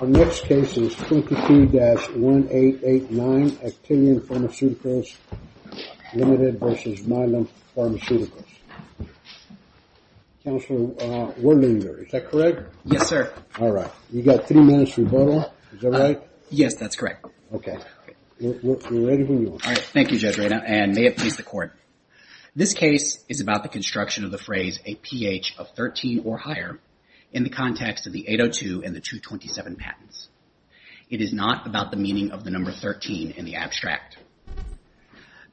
Our next case is 22-1889, Actelion Pharmaceuticals Ltd v. Mylan Pharmaceuticals. Counselor, we're linear. Is that correct? Yes, sir. All right. You've got three minutes to vote on. Is that right? Yes, that's correct. Okay. You're ready when you are. Thank you Judge Reina, and may it please the Court. This case is about the construction of the phrase a pH of 13 or higher in the context of the 802 and the 227 patents. It is not about the meaning of the number 13 in the abstract.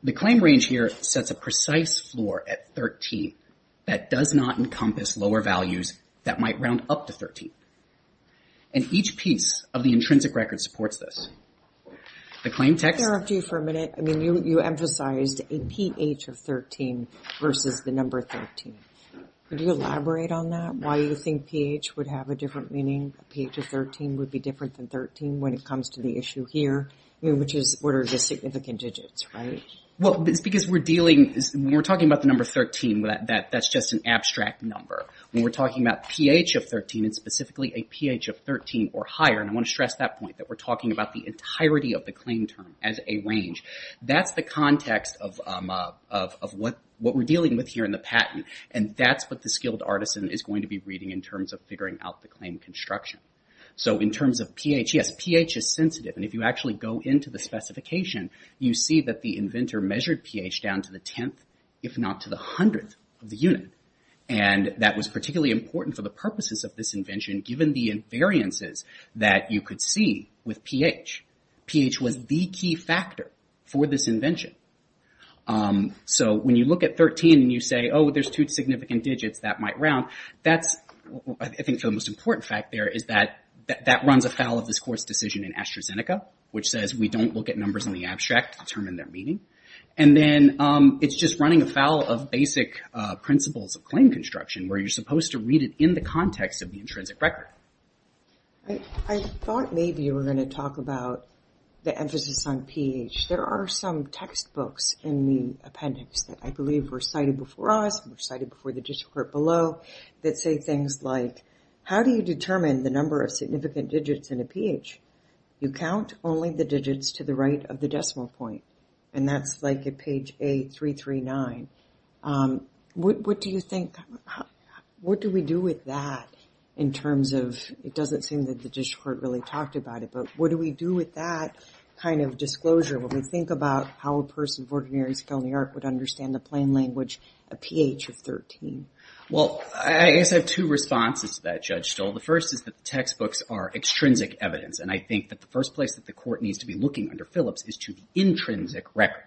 The claim range here sets a precise floor at 13 that does not encompass lower values that might round up to 13. And each piece of the intrinsic record supports this. The claim text? I'm going to interrupt you for a minute. I mean, you emphasized a pH of 13 versus the number 13. Could you elaborate on that? Why do you think pH would have a different meaning? A pH of 13 would be different than 13 when it comes to the issue here, which is what are the significant digits, right? Well, it's because we're dealing, we're talking about the number 13. That's just an abstract number. When we're talking about pH of 13, it's specifically a pH of 13 or higher. And I want to stress that point, that we're talking about the entirety of the claim term as a range. That's the context of what we're dealing with here in the patent. And that's what the skilled artisan is going to be reading in terms of figuring out the claim construction. So in terms of pH, yes, pH is sensitive. And if you actually go into the specification, you see that the inventor measured pH down to the tenth, if not to the hundredth, of the unit. And that was particularly important for the purposes of this invention, given the invariances that you could see with pH. pH was the key factor for this invention. So when you look at 13 and you say, oh, there's two significant digits that might round, that's, I think, the most important fact there is that that runs afoul of this court's decision in AstraZeneca, which says we don't look at numbers in the abstract to determine their meaning. And then it's just running afoul of basic principles of claim construction, where you're supposed to read it in the context of the intrinsic record. I thought maybe you were going to talk about the emphasis on pH. There are some textbooks in the appendix that I believe were cited before us, were cited before the district court below, that say things like, how do you determine the number of significant digits in a pH? You count only the digits to the right of the decimal point. And that's like at page A339. What do you think, what do we do with that in terms of, it doesn't seem that the district court really talked about it, but what do we do with that kind of disclosure when we think about how a person of ordinary skill in the art would understand the plain language, a pH of 13? Well, I guess I have two responses to that, Judge Stoll. Well, the first is that the textbooks are extrinsic evidence. And I think that the first place that the court needs to be looking under Phillips is to the intrinsic record.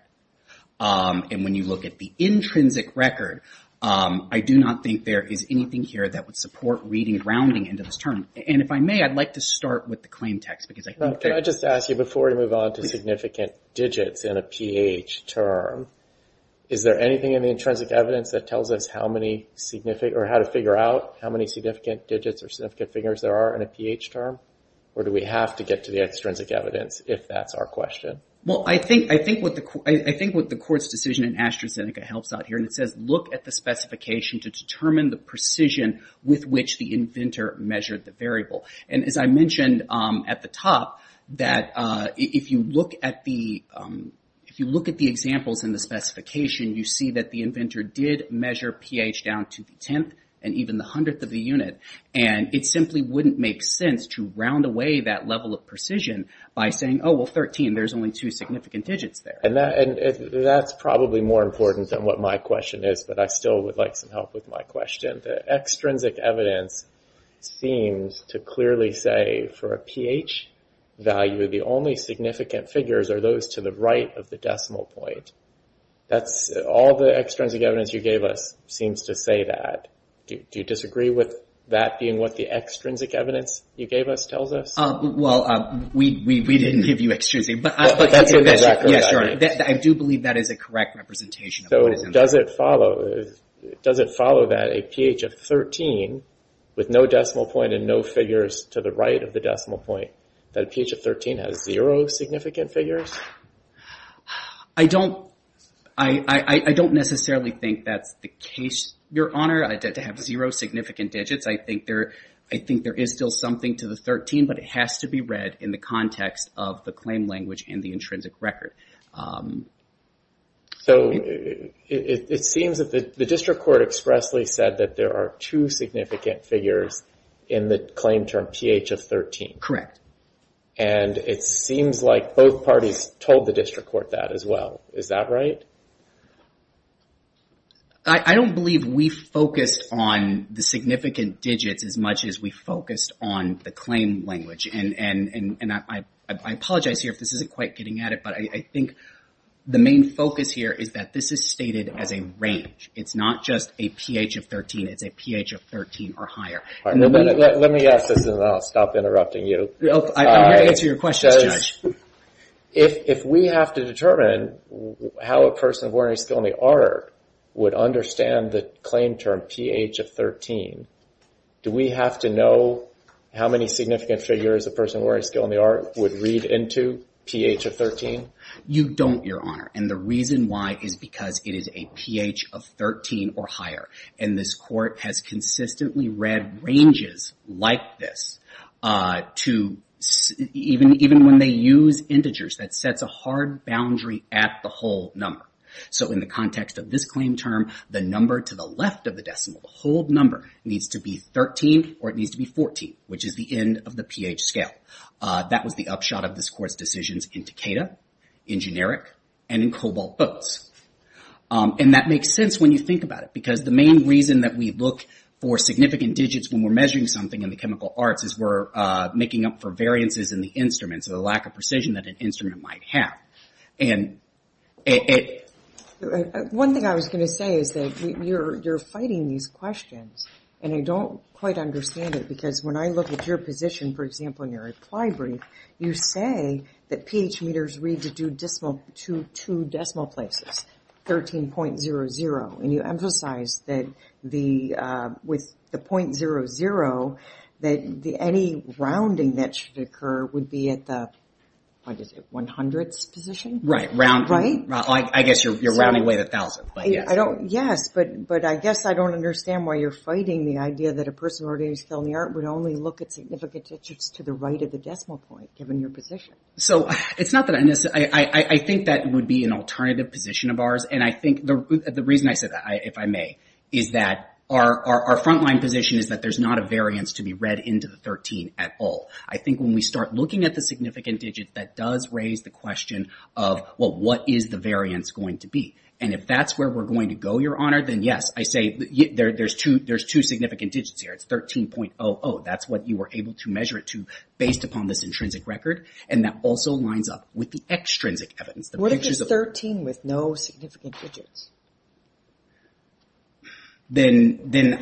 And when you look at the intrinsic record, I do not think there is anything here that would support reading and rounding into this term. And if I may, I'd like to start with the claim text, because I think there is. Can I just ask you, before we move on to significant digits in a pH term, is there anything in the intrinsic evidence that tells us how to figure out how many significant digits or significant figures there are in a pH term? Or do we have to get to the extrinsic evidence, if that's our question? Well, I think what the court's decision in AstraZeneca helps out here, and it says, look at the specification to determine the precision with which the inventor measured the variable. And as I mentioned at the top, that if you look at the examples in the specification, you see that the inventor did measure pH down to the 10th and even the 100th of the unit. And it simply wouldn't make sense to round away that level of precision by saying, oh, well, 13. There's only two significant digits there. And that's probably more important than what my question is, but I still would like some help with my question. The extrinsic evidence seems to clearly say for a pH value, the only significant figures are those to the right of the decimal point. All the extrinsic evidence you gave us seems to say that. Do you disagree with that being what the extrinsic evidence you gave us tells us? Well, we didn't give you extrinsic, but I do believe that is a correct representation. So does it follow that a pH of 13 with no decimal point and no figures to the right of the decimal point, that a pH of 13 has zero significant figures? I don't necessarily think that's the case, Your Honor. To have zero significant digits, I think there is still something to the 13, but it has to be read in the context of the claim language and the intrinsic record. So it seems that the district court expressly said that there are two significant figures in the claim term pH of 13. Correct. And it seems like both parties told the district court that as well. Is that right? I don't believe we focused on the significant digits as much as we focused on the claim language. And I apologize here if this isn't quite getting at it, but I think the main focus here is that this is stated as a range. It's not just a pH of 13. It's a pH of 13 or higher. Let me ask this and then I'll stop interrupting you. I'm here to answer your questions, Judge. If we have to determine how a person of ordinary skill in the art would understand the claim term pH of 13, do we have to know how many significant figures a person of ordinary skill in the art would read into pH of 13? You don't, Your Honor. And the reason why is because it is a pH of 13 or higher. And this court has consistently read ranges like this to even when they use integers, that sets a hard boundary at the whole number. So in the context of this claim term, the number to the left of the decimal, the whole number needs to be 13 or it needs to be 14, which is the end of the pH scale. That was the upshot of this court's decisions in Takeda, in Generic, and in Cobalt Boats. And that makes sense when you think about it, because the main reason that we look for significant digits when we're measuring something in the chemical arts is we're making up for variances in the instruments or the lack of precision that an instrument might have. One thing I was going to say is that you're fighting these questions, and I don't quite understand it because when I look at your position, for example, in your reply brief, you say that pH meters read to two decimal places, 13.00, and you emphasize that with the .00 that any rounding that should occur would be at the, what is it, one hundredths position? Right. Right? I guess you're rounding away at a thousand. Yes, but I guess I don't understand why you're fighting the idea that a person with an ordinary skill in the art would only look at significant digits to the right of the decimal point, given your position. So I think that would be an alternative position of ours, and I think the reason I said that, if I may, is that our frontline position is that there's not a variance to be read into the 13 at all. I think when we start looking at the significant digit, that does raise the question of, well, what is the variance going to be? And if that's where we're going to go, Your Honor, then yes, I say there's two significant digits here. It's 13.00. That's what you were able to measure it to based upon this intrinsic record, and that also lines up with the extrinsic evidence. What if it's 13 with no significant digits? Then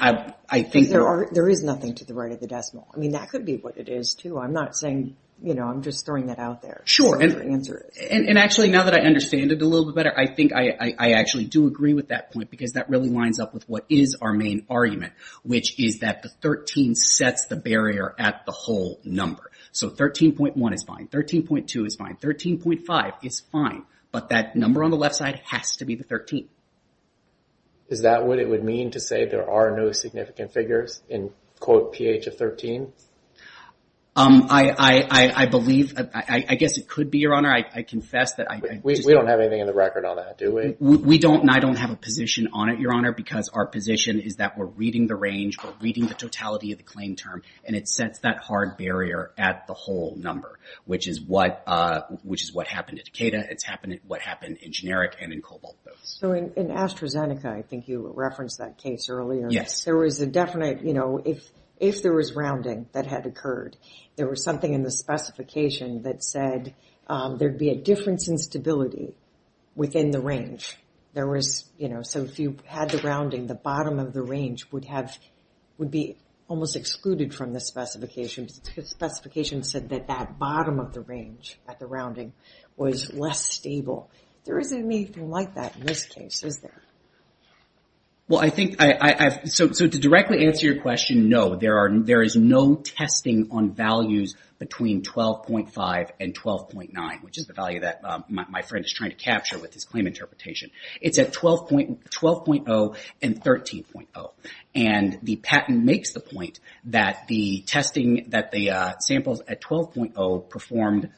I think... There is nothing to the right of the decimal. I mean, that could be what it is, too. I'm not saying, you know, I'm just throwing that out there. Sure, and actually, now that I understand it a little bit better, I think I actually do agree with that point, because that really lines up with what is our main argument, which is that the 13 sets the barrier at the whole number. So 13.1 is fine. 13.2 is fine. 13.5 is fine. But that number on the left side has to be the 13. Is that what it would mean to say there are no significant figures in, quote, PH of 13? I believe... I guess it could be, Your Honor. I confess that I... We don't have anything in the record on that, do we? We don't, and I don't have a position on it, Your Honor, because our position is that we're reading the range, we're reading the totality of the claim term, and it sets that hard barrier at the whole number, which is what happened at Decatur. It's what happened in generic and in cobalt both. So in AstraZeneca, I think you referenced that case earlier. Yes. There was a definite, you know, if there was rounding that had occurred, there was something in the specification that said there'd be a difference in stability within the range. There was, you know, so if you had the rounding, the bottom of the range would be almost excluded from the specification because the specification said that that bottom of the range at the rounding was less stable. There isn't anything like that in this case, is there? Well, I think I... So to directly answer your question, no. There is no testing on values between 12.5 and 12.9, which is the value that my friend is trying to capture with his claim interpretation. It's at 12.0 and 13.0, and the patent makes the point that the testing that the samples at 12.0 performed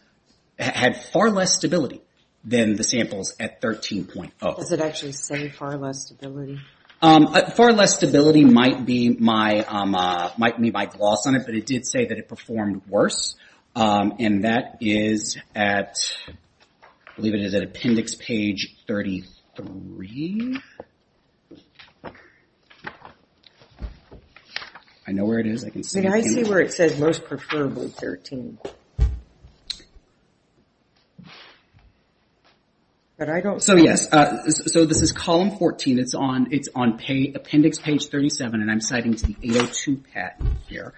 had far less stability than the samples at 13.0. Does it actually say far less stability? Far less stability might be my gloss on it, but it did say that it performed worse, and that is at, I believe it is at appendix page 33. I know where it is. I can see it. I see where it says most preferably 13. But I don't... So, yes. So this is column 14. It's on appendix page 37, and I'm citing to the 802 patent here.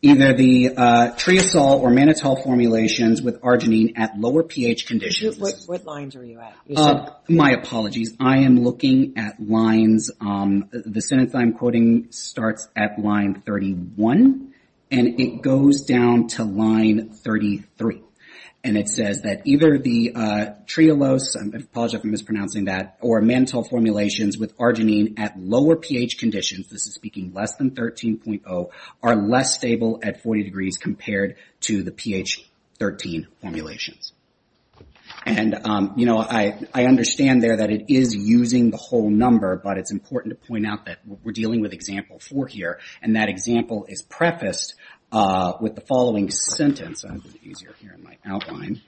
Either the triosol or mannitol formulations with arginine at lower pH conditions. What lines are you at? My apologies. I am looking at lines. The sentence I'm quoting starts at line 31, and it goes down to line 33, and it says that either the triolose, I apologize if I'm mispronouncing that, or mannitol formulations with arginine at lower pH conditions, this is speaking less than 13.0, are less stable at 40 degrees compared to the pH 13 formulations. And, you know, I understand there that it is using the whole number, but it's important to point out that we're dealing with example four here, and that example is prefaced with the following sentence. I hope it's easier here in my outline.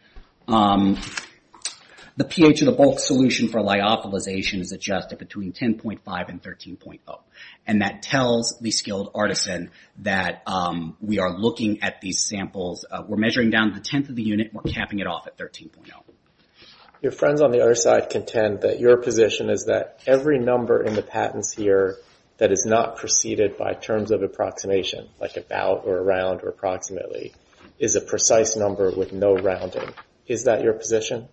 The pH of the bulk solution for lyophilization is adjusted between 10.5 and 13.0, and that tells the skilled artisan that we are looking at these samples. We're measuring down to the tenth of the unit. We're capping it off at 13.0. Your friends on the other side contend that your position is that every number in the patents here that is not preceded by terms of approximation, like about or around or approximately, is a precise number with no rounding. Is that your position?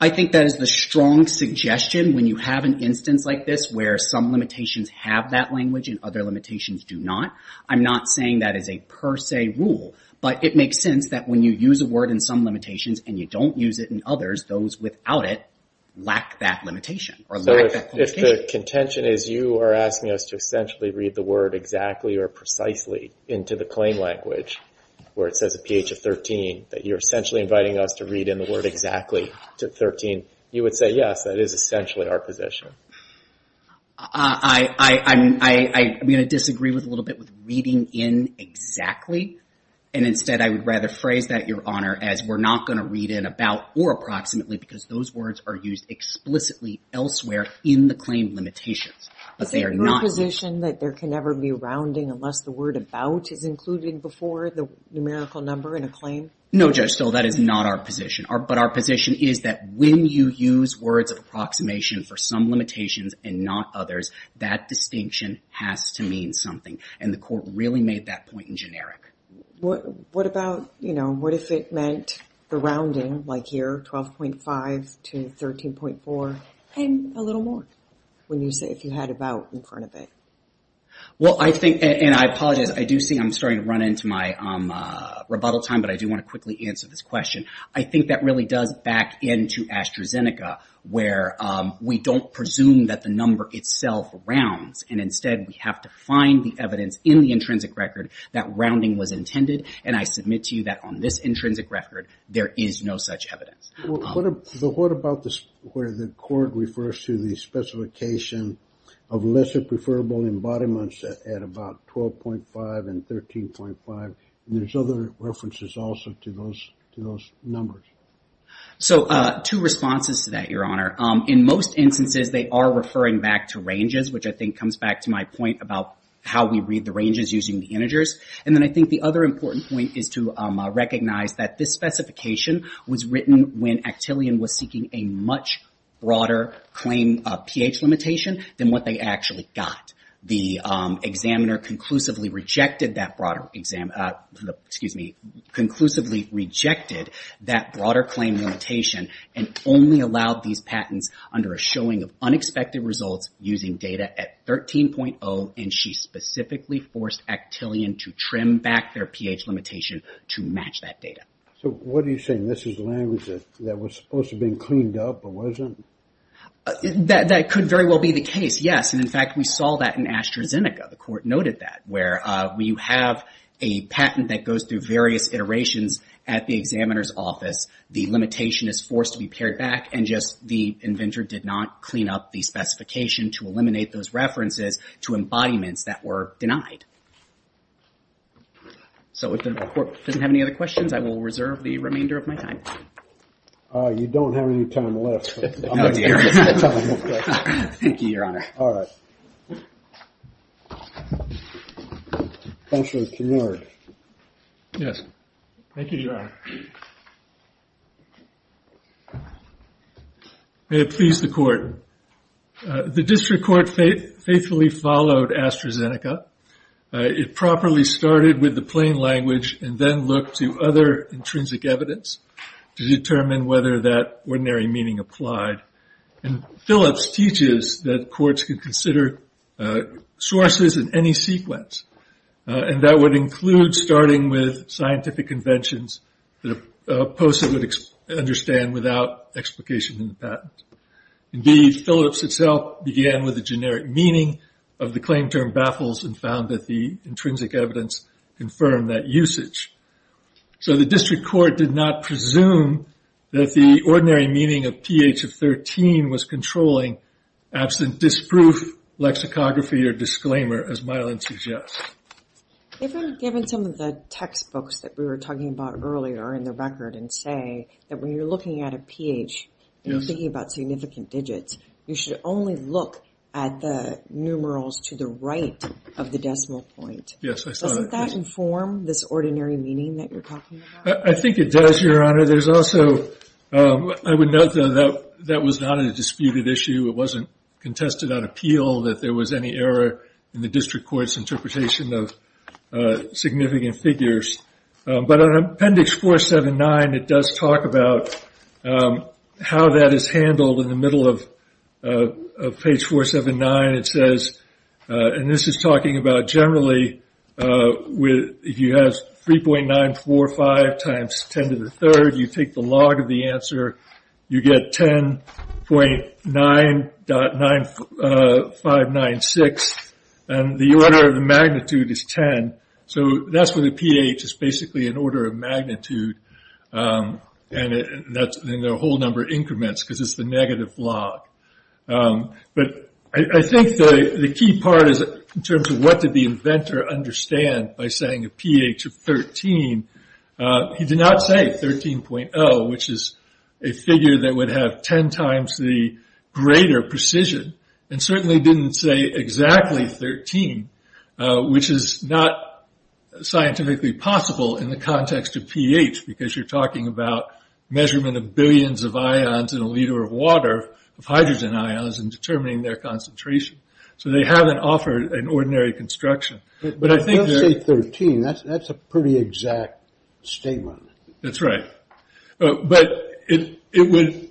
I think that is the strong suggestion when you have an instance like this where some limitations have that language and other limitations do not. I'm not saying that is a per se rule, but it makes sense that when you use a word in some limitations and you don't use it in others, those without it lack that limitation or lack that qualification. If the contention is you are asking us to essentially read the word exactly or precisely into the claim language where it says a pH of 13, that you're essentially inviting us to read in the word exactly to 13, you would say, yes, that is essentially our position. I'm going to disagree with a little bit with reading in exactly, and instead I would rather phrase that, Your Honor, as we're not going to read in about or approximately because those words are used explicitly elsewhere in the claim limitations. Is it your position that there can never be rounding unless the word about is included before the numerical number in a claim? No, Judge Still, that is not our position. But our position is that when you use words of approximation for some limitations and not others, that distinction has to mean something, and the Court really made that point in generic. What about, you know, what if it meant the rounding, like here, 12.5 to 13.4, and a little more, when you say if you had about in front of it? Well, I think, and I apologize, I do see I'm starting to run into my rebuttal time, but I do want to quickly answer this question. I think that really does back into AstraZeneca, where we don't presume that the number itself rounds, and instead we have to find the evidence in the intrinsic record that rounding was intended, and I submit to you that on this intrinsic record there is no such evidence. Well, what about where the Court refers to the specification of lesser preferable embodiments at about 12.5 and 13.5, and there's other references also to those numbers? So, two responses to that, Your Honor. In most instances, they are referring back to ranges, which I think comes back to my point about how we read the ranges using the integers, and then I think the other important point is to recognize that this specification was written when Actillion was seeking a much broader claim pH limitation than what they actually got. The examiner conclusively rejected that broader claim limitation and only allowed these patents under a showing of unexpected results using data at 13.0, and she specifically forced Actillion to trim back their pH limitation to match that data. So, what are you saying? This is language that was supposed to be cleaned up, but wasn't? That could very well be the case, yes, and, in fact, we saw that in AstraZeneca. The Court noted that where you have a patent that goes through various iterations at the examiner's office, the limitation is forced to be pared back and just the inventor did not clean up the specification to eliminate those references to embodiments that were denied. So, if the Court doesn't have any other questions, I will reserve the remainder of my time. You don't have any time left. Oh, dear. Thank you, Your Honor. All right. Counselor Knorr. Yes. Thank you, Your Honor. May it please the Court. The District Court faithfully followed AstraZeneca. It properly started with the plain language and then looked to other intrinsic evidence to determine whether that ordinary meaning applied, and Phillips teaches that courts can consider sources in any sequence, and that would include starting with scientific conventions that a person would understand without explication in the patent. Indeed, Phillips itself began with the generic meaning of the claim term So, the District Court did not presume that the ordinary meaning of pH of 13 was controlling absent disproof, lexicography, or disclaimer, as Milan suggests. If I'm given some of the textbooks that we were talking about earlier in the record and say that when you're looking at a pH and you're thinking about significant digits, you should only look at the numerals to the right of the decimal point. Yes, I saw that. Does that inform this ordinary meaning that you're talking about? I think it does, Your Honor. I would note that that was not a disputed issue. It wasn't contested on appeal that there was any error in the District Court's interpretation of significant figures. But on Appendix 479, it does talk about how that is handled. In the middle of page 479, it says, and this is talking about generally if you have 3.945 times 10 to the third, you take the log of the answer, you get 10.9.596, and the order of the magnitude is 10. So, that's where the pH is basically an order of magnitude, and the whole number increments because it's the negative log. But I think the key part is in terms of what did the inventor understand by saying a pH of 13? He did not say 13.0, which is a figure that would have 10 times the greater precision, and certainly didn't say exactly 13, which is not scientifically possible in the context of pH because you're talking about measurement of billions of ions in a liter of water, of hydrogen ions, and determining their concentration. So, they haven't offered an ordinary construction. But I think they're... But let's say 13. That's a pretty exact statement. That's right. But it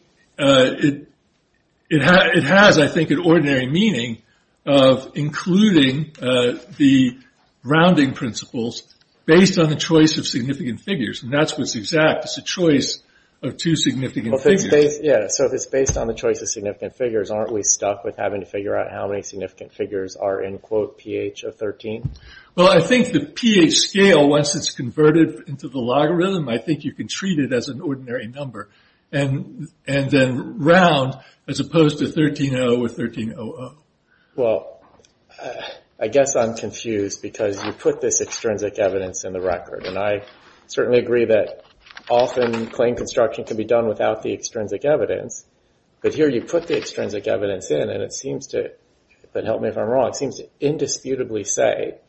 has, I think, an ordinary meaning of including the rounding principles based on the choice of significant figures, and that's what's exact, it's a choice of two significant figures. Yeah. So, if it's based on the choice of significant figures, aren't we stuck with having to figure out how many significant figures are in, quote, pH of 13? Well, I think the pH scale, once it's converted into the logarithm, I think you can treat it as an ordinary number, and then round as opposed to 13.0 or 13.00. Well, I guess I'm confused because you put this extrinsic evidence in the record, and I certainly agree that often claim construction can be done without the extrinsic evidence. But here you put the extrinsic evidence in, and it seems to, but help me if I'm wrong, it seems to indisputably say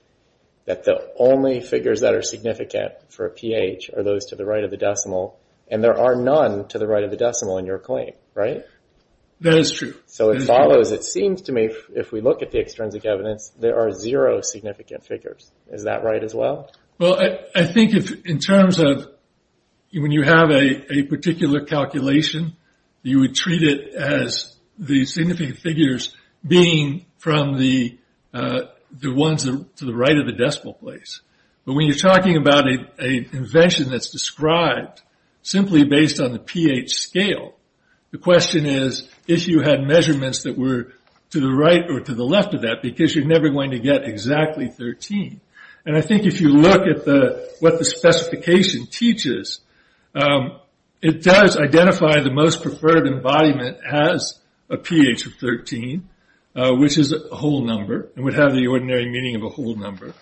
that the only figures that are significant for pH are those to the right of the decimal, and there are none to the right of the decimal in your claim, right? That is true. So, it follows, it seems to me, if we look at the extrinsic evidence, there are zero significant figures. Is that right as well? Well, I think in terms of when you have a particular calculation, you would treat it as the significant figures being from the ones to the right of the decimal place. But when you're talking about an invention that's described simply based on the pH scale, the question is if you had measurements that were to the right or to the left of that because you're never going to get exactly 13. And I think if you look at what the specification teaches, it does identify the most preferred embodiment has a pH of 13, which is a whole number and would have the ordinary meaning of a whole number.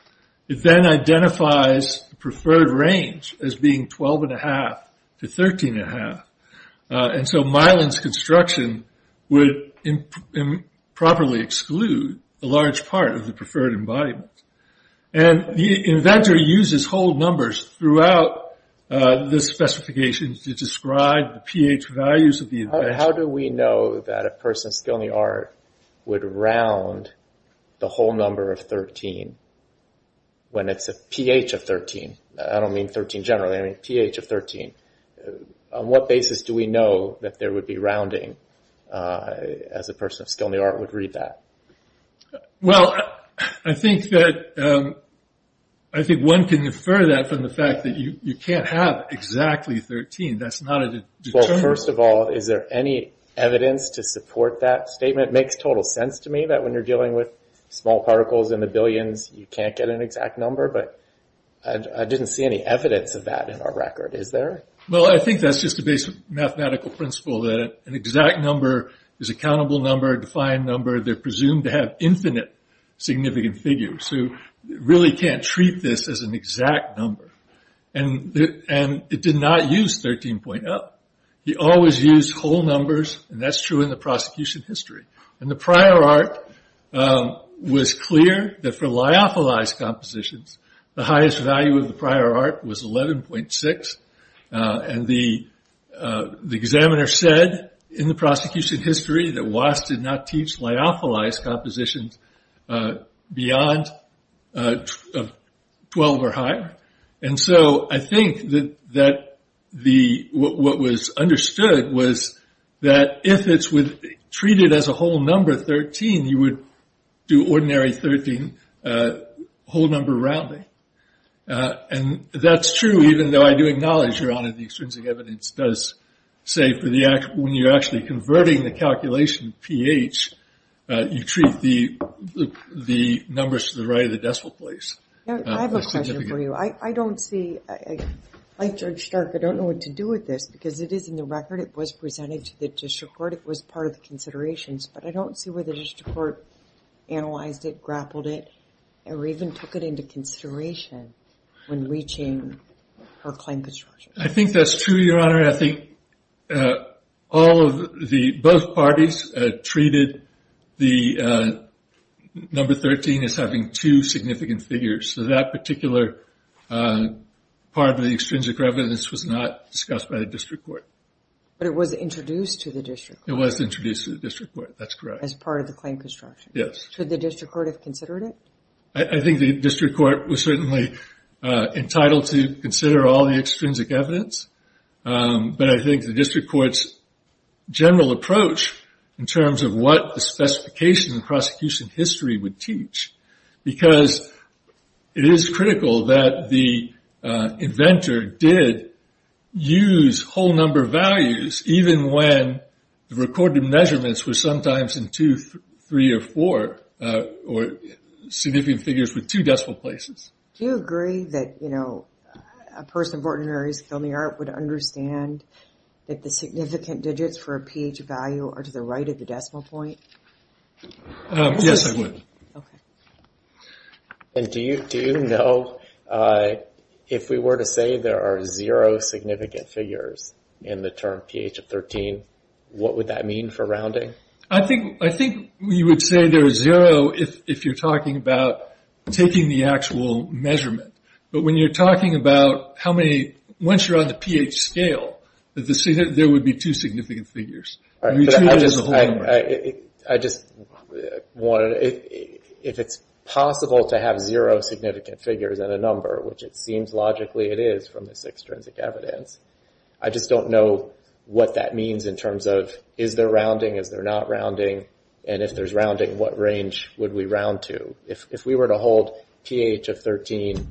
It then identifies the preferred range as being 12.5 to 13.5. And so Mylan's construction would improperly exclude a large part of the preferred embodiment. And the inventor uses whole numbers throughout the specifications to describe the pH values of the invention. How do we know that a person's skill in the art would round the whole number of 13 when it's a pH of 13? I don't mean 13 generally. I mean pH of 13. On what basis do we know that there would be rounding as a person of skill in the art would read that? Well, I think that one can infer that from the fact that you can't have exactly 13. That's not a determinant. Well, first of all, is there any evidence to support that statement? It makes total sense to me that when you're dealing with small particles in the billions, you can't get an exact number. But I didn't see any evidence of that in our record. Is there? Well, I think that's just a basic mathematical principle that an exact number is a countable number, a defined number. They're presumed to have infinite significant figures. So you really can't treat this as an exact number. And it did not use 13.0. He always used whole numbers, and that's true in the prosecution history. And the prior art was clear that for lyophilized compositions, the highest value of the prior art was 11.6. And the examiner said in the prosecution history that Watts did not teach lyophilized compositions beyond 12 or higher. And so I think that what was understood was that if it's treated as a whole number 13, you would do ordinary 13 whole number rounding. And that's true, even though I do acknowledge, Your Honor, the extrinsic evidence does say when you're actually converting the calculation pH, you treat the numbers to the right of the decimal place. I have a question for you. I don't see, like Judge Stark, I don't know what to do with this. Because it is in the record. It was presented to the district court. It was part of the considerations. But I don't see where the district court analyzed it, grappled it, or even took it into consideration when reaching her claim construction. I think that's true, Your Honor. Your Honor, I think both parties treated the number 13 as having two significant figures. So that particular part of the extrinsic evidence was not discussed by the district court. But it was introduced to the district court. It was introduced to the district court. That's correct. As part of the claim construction. Yes. Should the district court have considered it? I think the district court was certainly entitled to consider all the extrinsic evidence. But I think the district court's general approach, in terms of what the specification of prosecution history would teach, because it is critical that the inventor did use whole number values, even when the recorded measurements were sometimes in two, three, or four, or significant figures with two decimal places. Do you agree that a person of ordinary skill in the art would understand that the significant digits for a pH value are to the right of the decimal point? Yes, I would. Okay. And do you know if we were to say there are zero significant figures in the term pH of 13, what would that mean for rounding? I think you would say there is zero if you're talking about taking the actual measurement. But when you're talking about how many, once you're on the pH scale, there would be two significant figures. If it's possible to have zero significant figures in a number, which it seems logically it is from this extrinsic evidence, I just don't know what that means in terms of is there rounding, is there not rounding, and if there's rounding, what range would we round to? If we were to hold pH of 13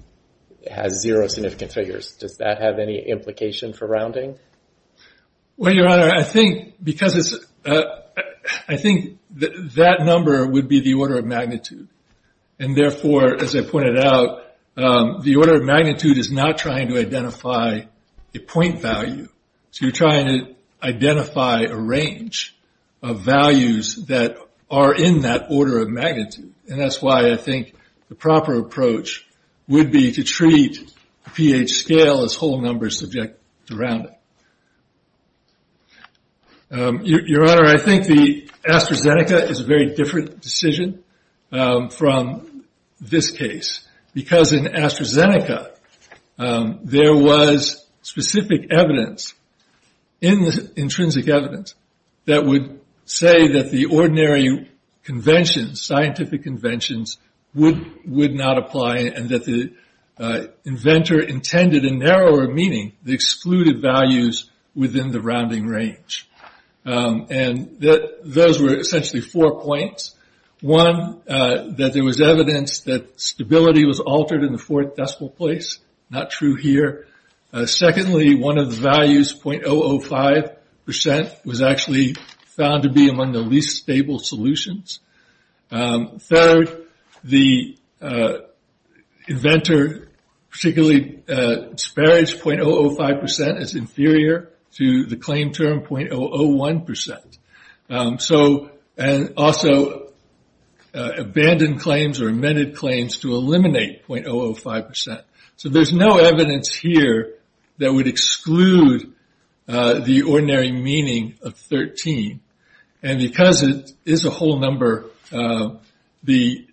has zero significant figures, does that have any implication for rounding? Well, Your Honor, I think that number would be the order of magnitude. And therefore, as I pointed out, the order of magnitude is not trying to identify a point value. So you're trying to identify a range of values that are in that order of magnitude. And that's why I think the proper approach would be to treat the pH scale as whole numbers subject to rounding. Your Honor, I think the AstraZeneca is a very different decision from this case, because in AstraZeneca there was specific evidence in the intrinsic evidence that would say that the ordinary convention, scientific conventions, would not apply, and that the inventor intended a narrower meaning that excluded values within the rounding range. And those were essentially four points. One, that there was evidence that stability was altered in the fourth decimal place. Not true here. Secondly, one of the values, 0.005%, was actually found to be among the least stable solutions. Third, the inventor particularly disparaged 0.005% as inferior to the claim term 0.001%. So also abandoned claims or amended claims to eliminate 0.005%. So there's no evidence here that would exclude the ordinary meaning of 13. And because it is a whole number, and the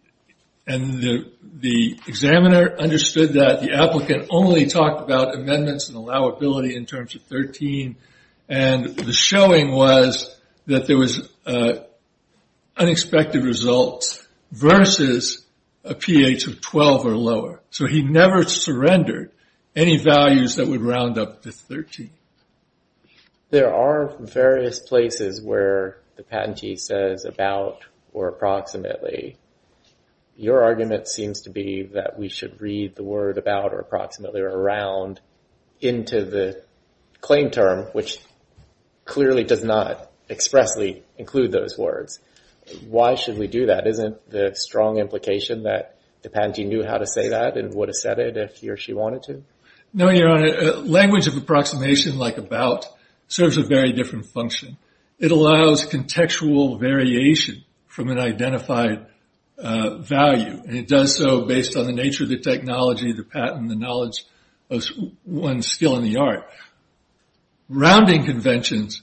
examiner understood that, the applicant only talked about amendments and allowability in terms of 13, and the showing was that there was unexpected results versus a pH of 12 or lower. So he never surrendered any values that would round up to 13. There are various places where the patentee says about or approximately. Your argument seems to be that we should read the word about or approximately or around into the claim term, which clearly does not expressly include those words. Why should we do that? Isn't there a strong implication that the patentee knew how to say that and would have said it if he or she wanted to? No, Your Honor. Language of approximation like about serves a very different function. It allows contextual variation from an identified value, and it does so based on the nature of the technology, the patent, and the knowledge of one's skill in the art. Rounding conventions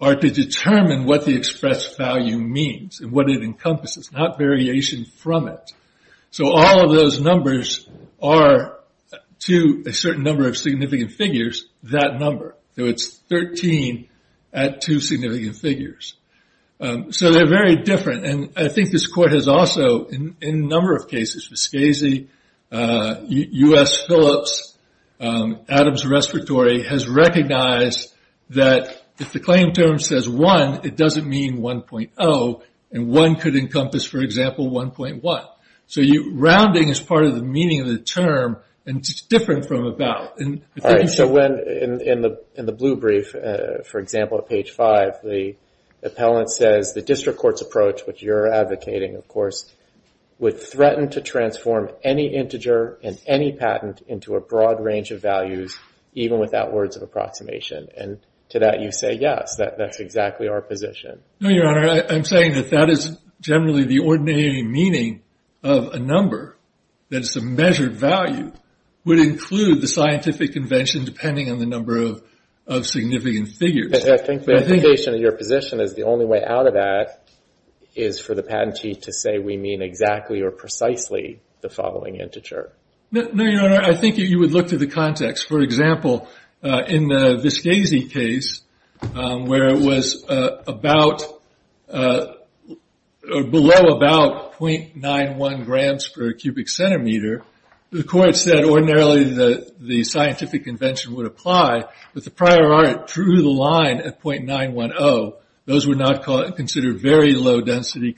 are to determine what the expressed value means and what it encompasses, not variation from it. So all of those numbers are, to a certain number of significant figures, that number. So it's 13 at two significant figures. So they're very different, and I think this Court has also, in a number of cases, Vizquezi, U.S. Phillips, Adams Respiratory, has recognized that if the claim term says one, it doesn't mean 1.0, and one could encompass, for example, 1.1. So rounding is part of the meaning of the term, and it's different from about. So in the blue brief, for example, at page five, the appellant says, the district court's approach, which you're advocating, of course, would threaten to transform any integer in any patent into a broad range of values, even without words of approximation. And to that you say, yes, that's exactly our position. No, Your Honor. I'm saying that that is generally the ordinary meaning of a number that is a measured value would include the scientific convention depending on the number of significant figures. I think the implication of your position is the only way out of that is for the patentee to say we mean exactly or precisely the following integer. No, Your Honor. I think you would look to the context. For example, in the Vizquezi case, where it was below about 0.91 grams per cubic centimeter, the Court said ordinarily the scientific convention would apply, but the prior art drew the line at 0.910. Those were not considered very low-density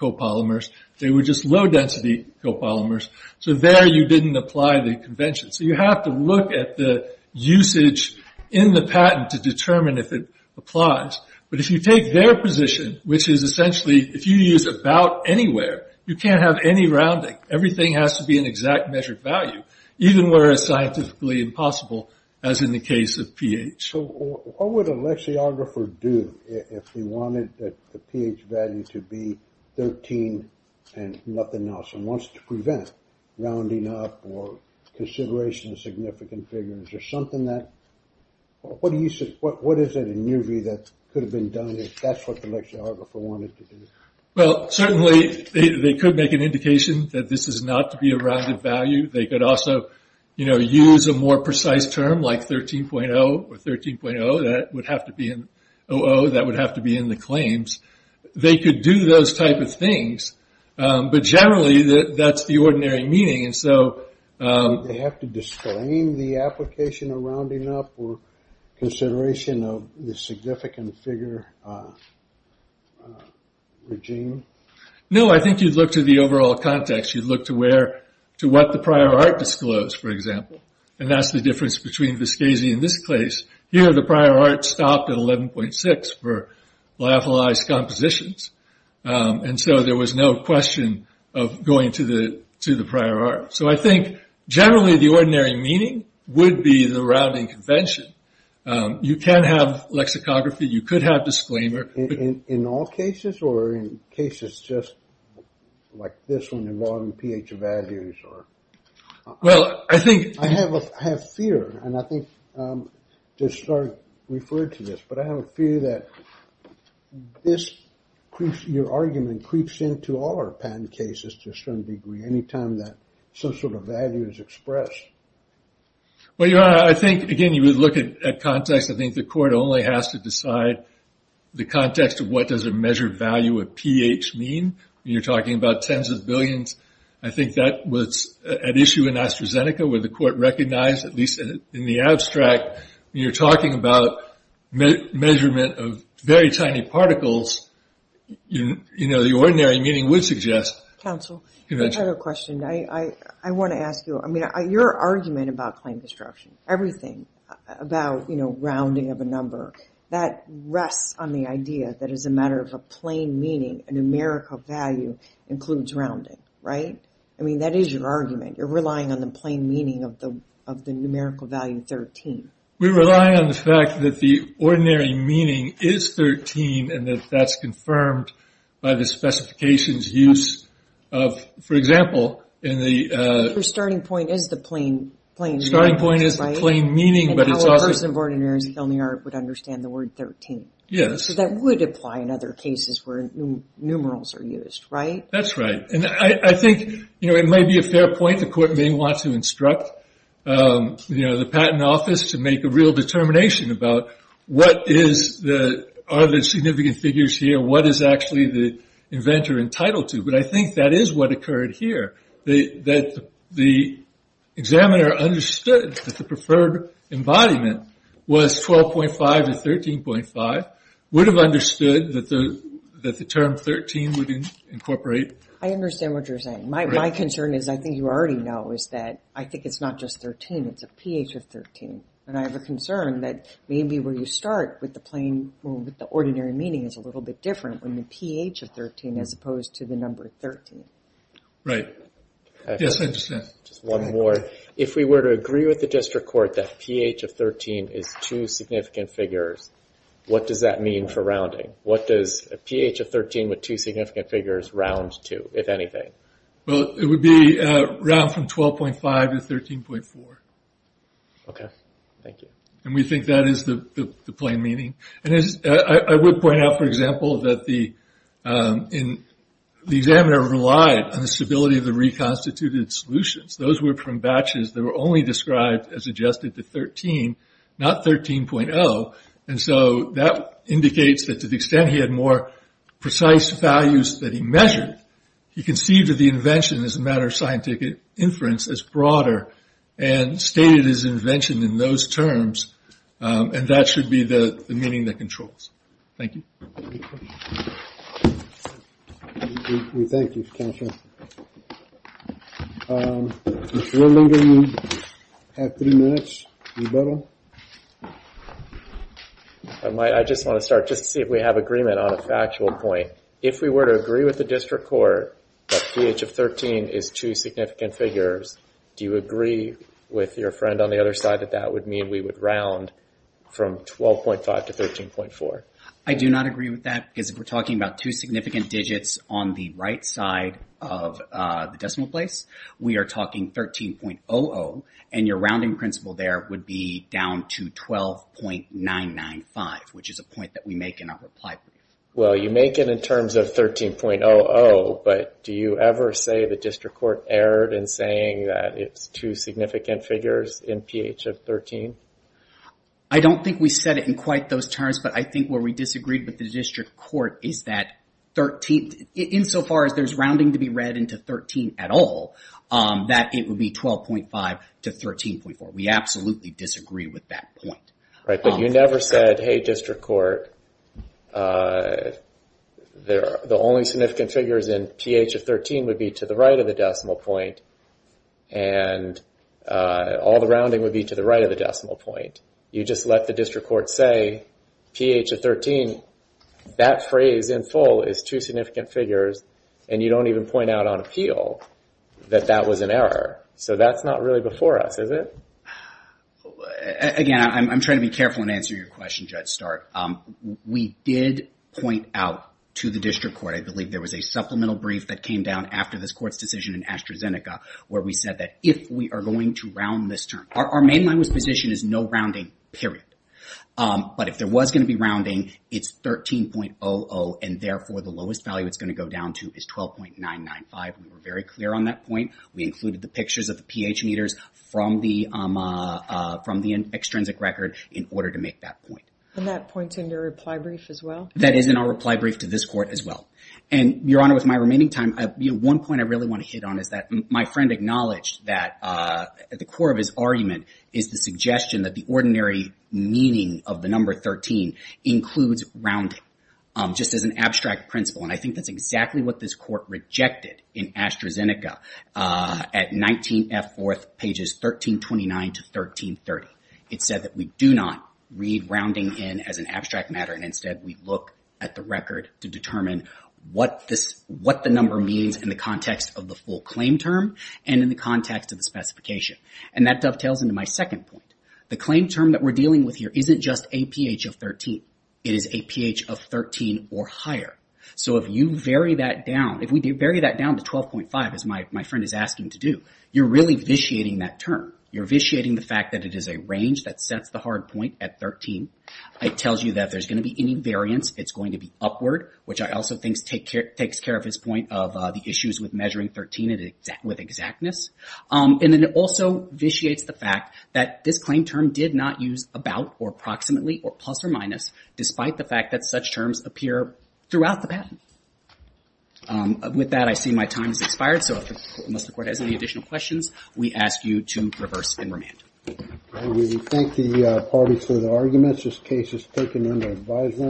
copolymers. They were just low-density copolymers. So there you didn't apply the convention. So you have to look at the usage in the patent to determine if it applies. But if you take their position, which is essentially if you use about anywhere, you can't have any rounding. Everything has to be an exact measured value, even where it's scientifically impossible, as in the case of pH. So what would a lexiographer do if he wanted the pH value to be 13 and nothing else and wants to prevent rounding up or consideration of significant figures or something that – what is it in your view that could have been done if that's what the lexiographer wanted to do? Well, certainly they could make an indication that this is not to be a rounded value. They could also, you know, use a more precise term like 13.0 or 13.0. That would have to be in – 00, that would have to be in the claims. They could do those type of things, but generally that's the ordinary meaning. And so – Would they have to disclaim the application of rounding up or consideration of the significant figure regime? No, I think you'd look to the overall context. You'd look to where – to what the prior art disclosed, for example. And that's the difference between Vescazzi and this case. Here the prior art stopped at 11.6 for lyophilized compositions. And so there was no question of going to the prior art. So I think generally the ordinary meaning would be the rounding convention. You can have lexicography. You could have disclaimer. In all cases or in cases just like this one involving pH values or – Well, I think – I have fear, and I think just sort of referred to this, but I have a fear that this creeps – your argument creeps into all our patent cases to a certain degree any time that some sort of value is expressed. Well, Your Honor, I think, again, you would look at context. I think the court only has to decide the context of what does a measured value of pH mean. When you're talking about tens of billions, I think that was at issue in AstraZeneca where the court recognized, at least in the abstract, when you're talking about measurement of very tiny particles, you know, the ordinary meaning would suggest convention. Counsel, I have a question. I want to ask you – I mean, your argument about claim destruction, everything about, you know, rounding of a number, that rests on the idea that as a matter of a plain meaning, a numerical value includes rounding, right? I mean, that is your argument. You're relying on the plain meaning of the numerical value 13. We rely on the fact that the ordinary meaning is 13 and that that's confirmed by the specifications use of, for example, in the – Your starting point is the plain meaning. My starting point is the plain meaning, but it's also – And how a person born in New York City with only art would understand the word 13. Yes. So that would apply in other cases where numerals are used, right? That's right. And I think, you know, it may be a fair point. The court may want to instruct, you know, the patent office to make a real determination about what is the – are there significant figures here? What is actually the inventor entitled to? But I think that is what occurred here, that the examiner understood that the preferred embodiment was 12.5 to 13.5, would have understood that the term 13 would incorporate. I understand what you're saying. My concern is, I think you already know, is that I think it's not just 13. It's a pH of 13. And I have a concern that maybe where you start with the plain – with the ordinary meaning is a little bit different when the pH of 13 as opposed to the number 13. Right. Yes, I understand. Just one more. If we were to agree with the district court that pH of 13 is two significant figures, what does that mean for rounding? What does a pH of 13 with two significant figures round to, if anything? Well, it would be round from 12.5 to 13.4. Okay. Thank you. And we think that is the plain meaning. I would point out, for example, that the examiner relied on the stability of the reconstituted solutions. Those were from batches that were only described as adjusted to 13, not 13.0. And so that indicates that to the extent he had more precise values that he measured, he conceived of the invention as a matter of scientific inference as broader and stated his invention in those terms. And that should be the meaning that controls. Thank you. We thank you, Counselor. If no longer you have three minutes, you're better. I just want to start just to see if we have agreement on a factual point. If we were to agree with the district court that pH of 13 is two significant figures, do you agree with your friend on the other side that that would mean we would round from 12.5 to 13.4? I do not agree with that because if we're talking about two significant digits on the right side of the decimal place, we are talking 13.00, and your rounding principle there would be down to 12.995, which is a point that we make in our reply brief. Well, you make it in terms of 13.00, but do you ever say the district court erred in saying that it's two significant figures in pH of 13? I don't think we said it in quite those terms, but I think where we disagreed with the district court is that 13, insofar as there's rounding to be read into 13 at all, that it would be 12.5 to 13.4. We absolutely disagree with that point. Right, but you never said, hey, district court, the only significant figures in pH of 13 would be to the right of the decimal point, and all the rounding would be to the right of the decimal point. You just let the district court say pH of 13, that phrase in full is two significant figures, and you don't even point out on appeal that that was an error. So that's not really before us, is it? Again, I'm trying to be careful in answering your question, Judge Start. We did point out to the district court, I believe there was a supplemental brief that came down after this court's decision in AstraZeneca, where we said that if we are going to round this term, our main line of position is no rounding, period. But if there was going to be rounding, it's 13.00, and therefore the lowest value it's going to go down to is 12.995. We were very clear on that point. We included the pictures of the pH meters from the extrinsic record in order to make that point. And that points in your reply brief as well? That is in our reply brief to this court as well. And, Your Honor, with my remaining time, one point I really want to hit on is that my friend acknowledged that at the core of his argument is the suggestion that the ordinary meaning of the number 13 includes rounding, just as an abstract principle. And I think that's exactly what this court rejected in AstraZeneca at 19F4, pages 1329 to 1330. It said that we do not read rounding in as an abstract matter, and instead we look at the record to determine what the number means in the context of the full claim term and in the context of the specification. And that dovetails into my second point. The claim term that we're dealing with here isn't just a pH of 13. It is a pH of 13 or higher. So if you vary that down, if we vary that down to 12.5, as my friend is asking to do, you're really vitiating that term. You're vitiating the fact that it is a range that sets the hard point at 13. It tells you that if there's going to be any variance, it's going to be upward, which I also think takes care of his point of the issues with measuring 13 with exactness. And then it also vitiates the fact that this claim term did not use about or approximately or plus or minus, despite the fact that such terms appear throughout the patent. With that, I see my time has expired. So unless the court has any additional questions, we ask you to reverse and remand. We thank the parties for their arguments. This case is taken under advisement.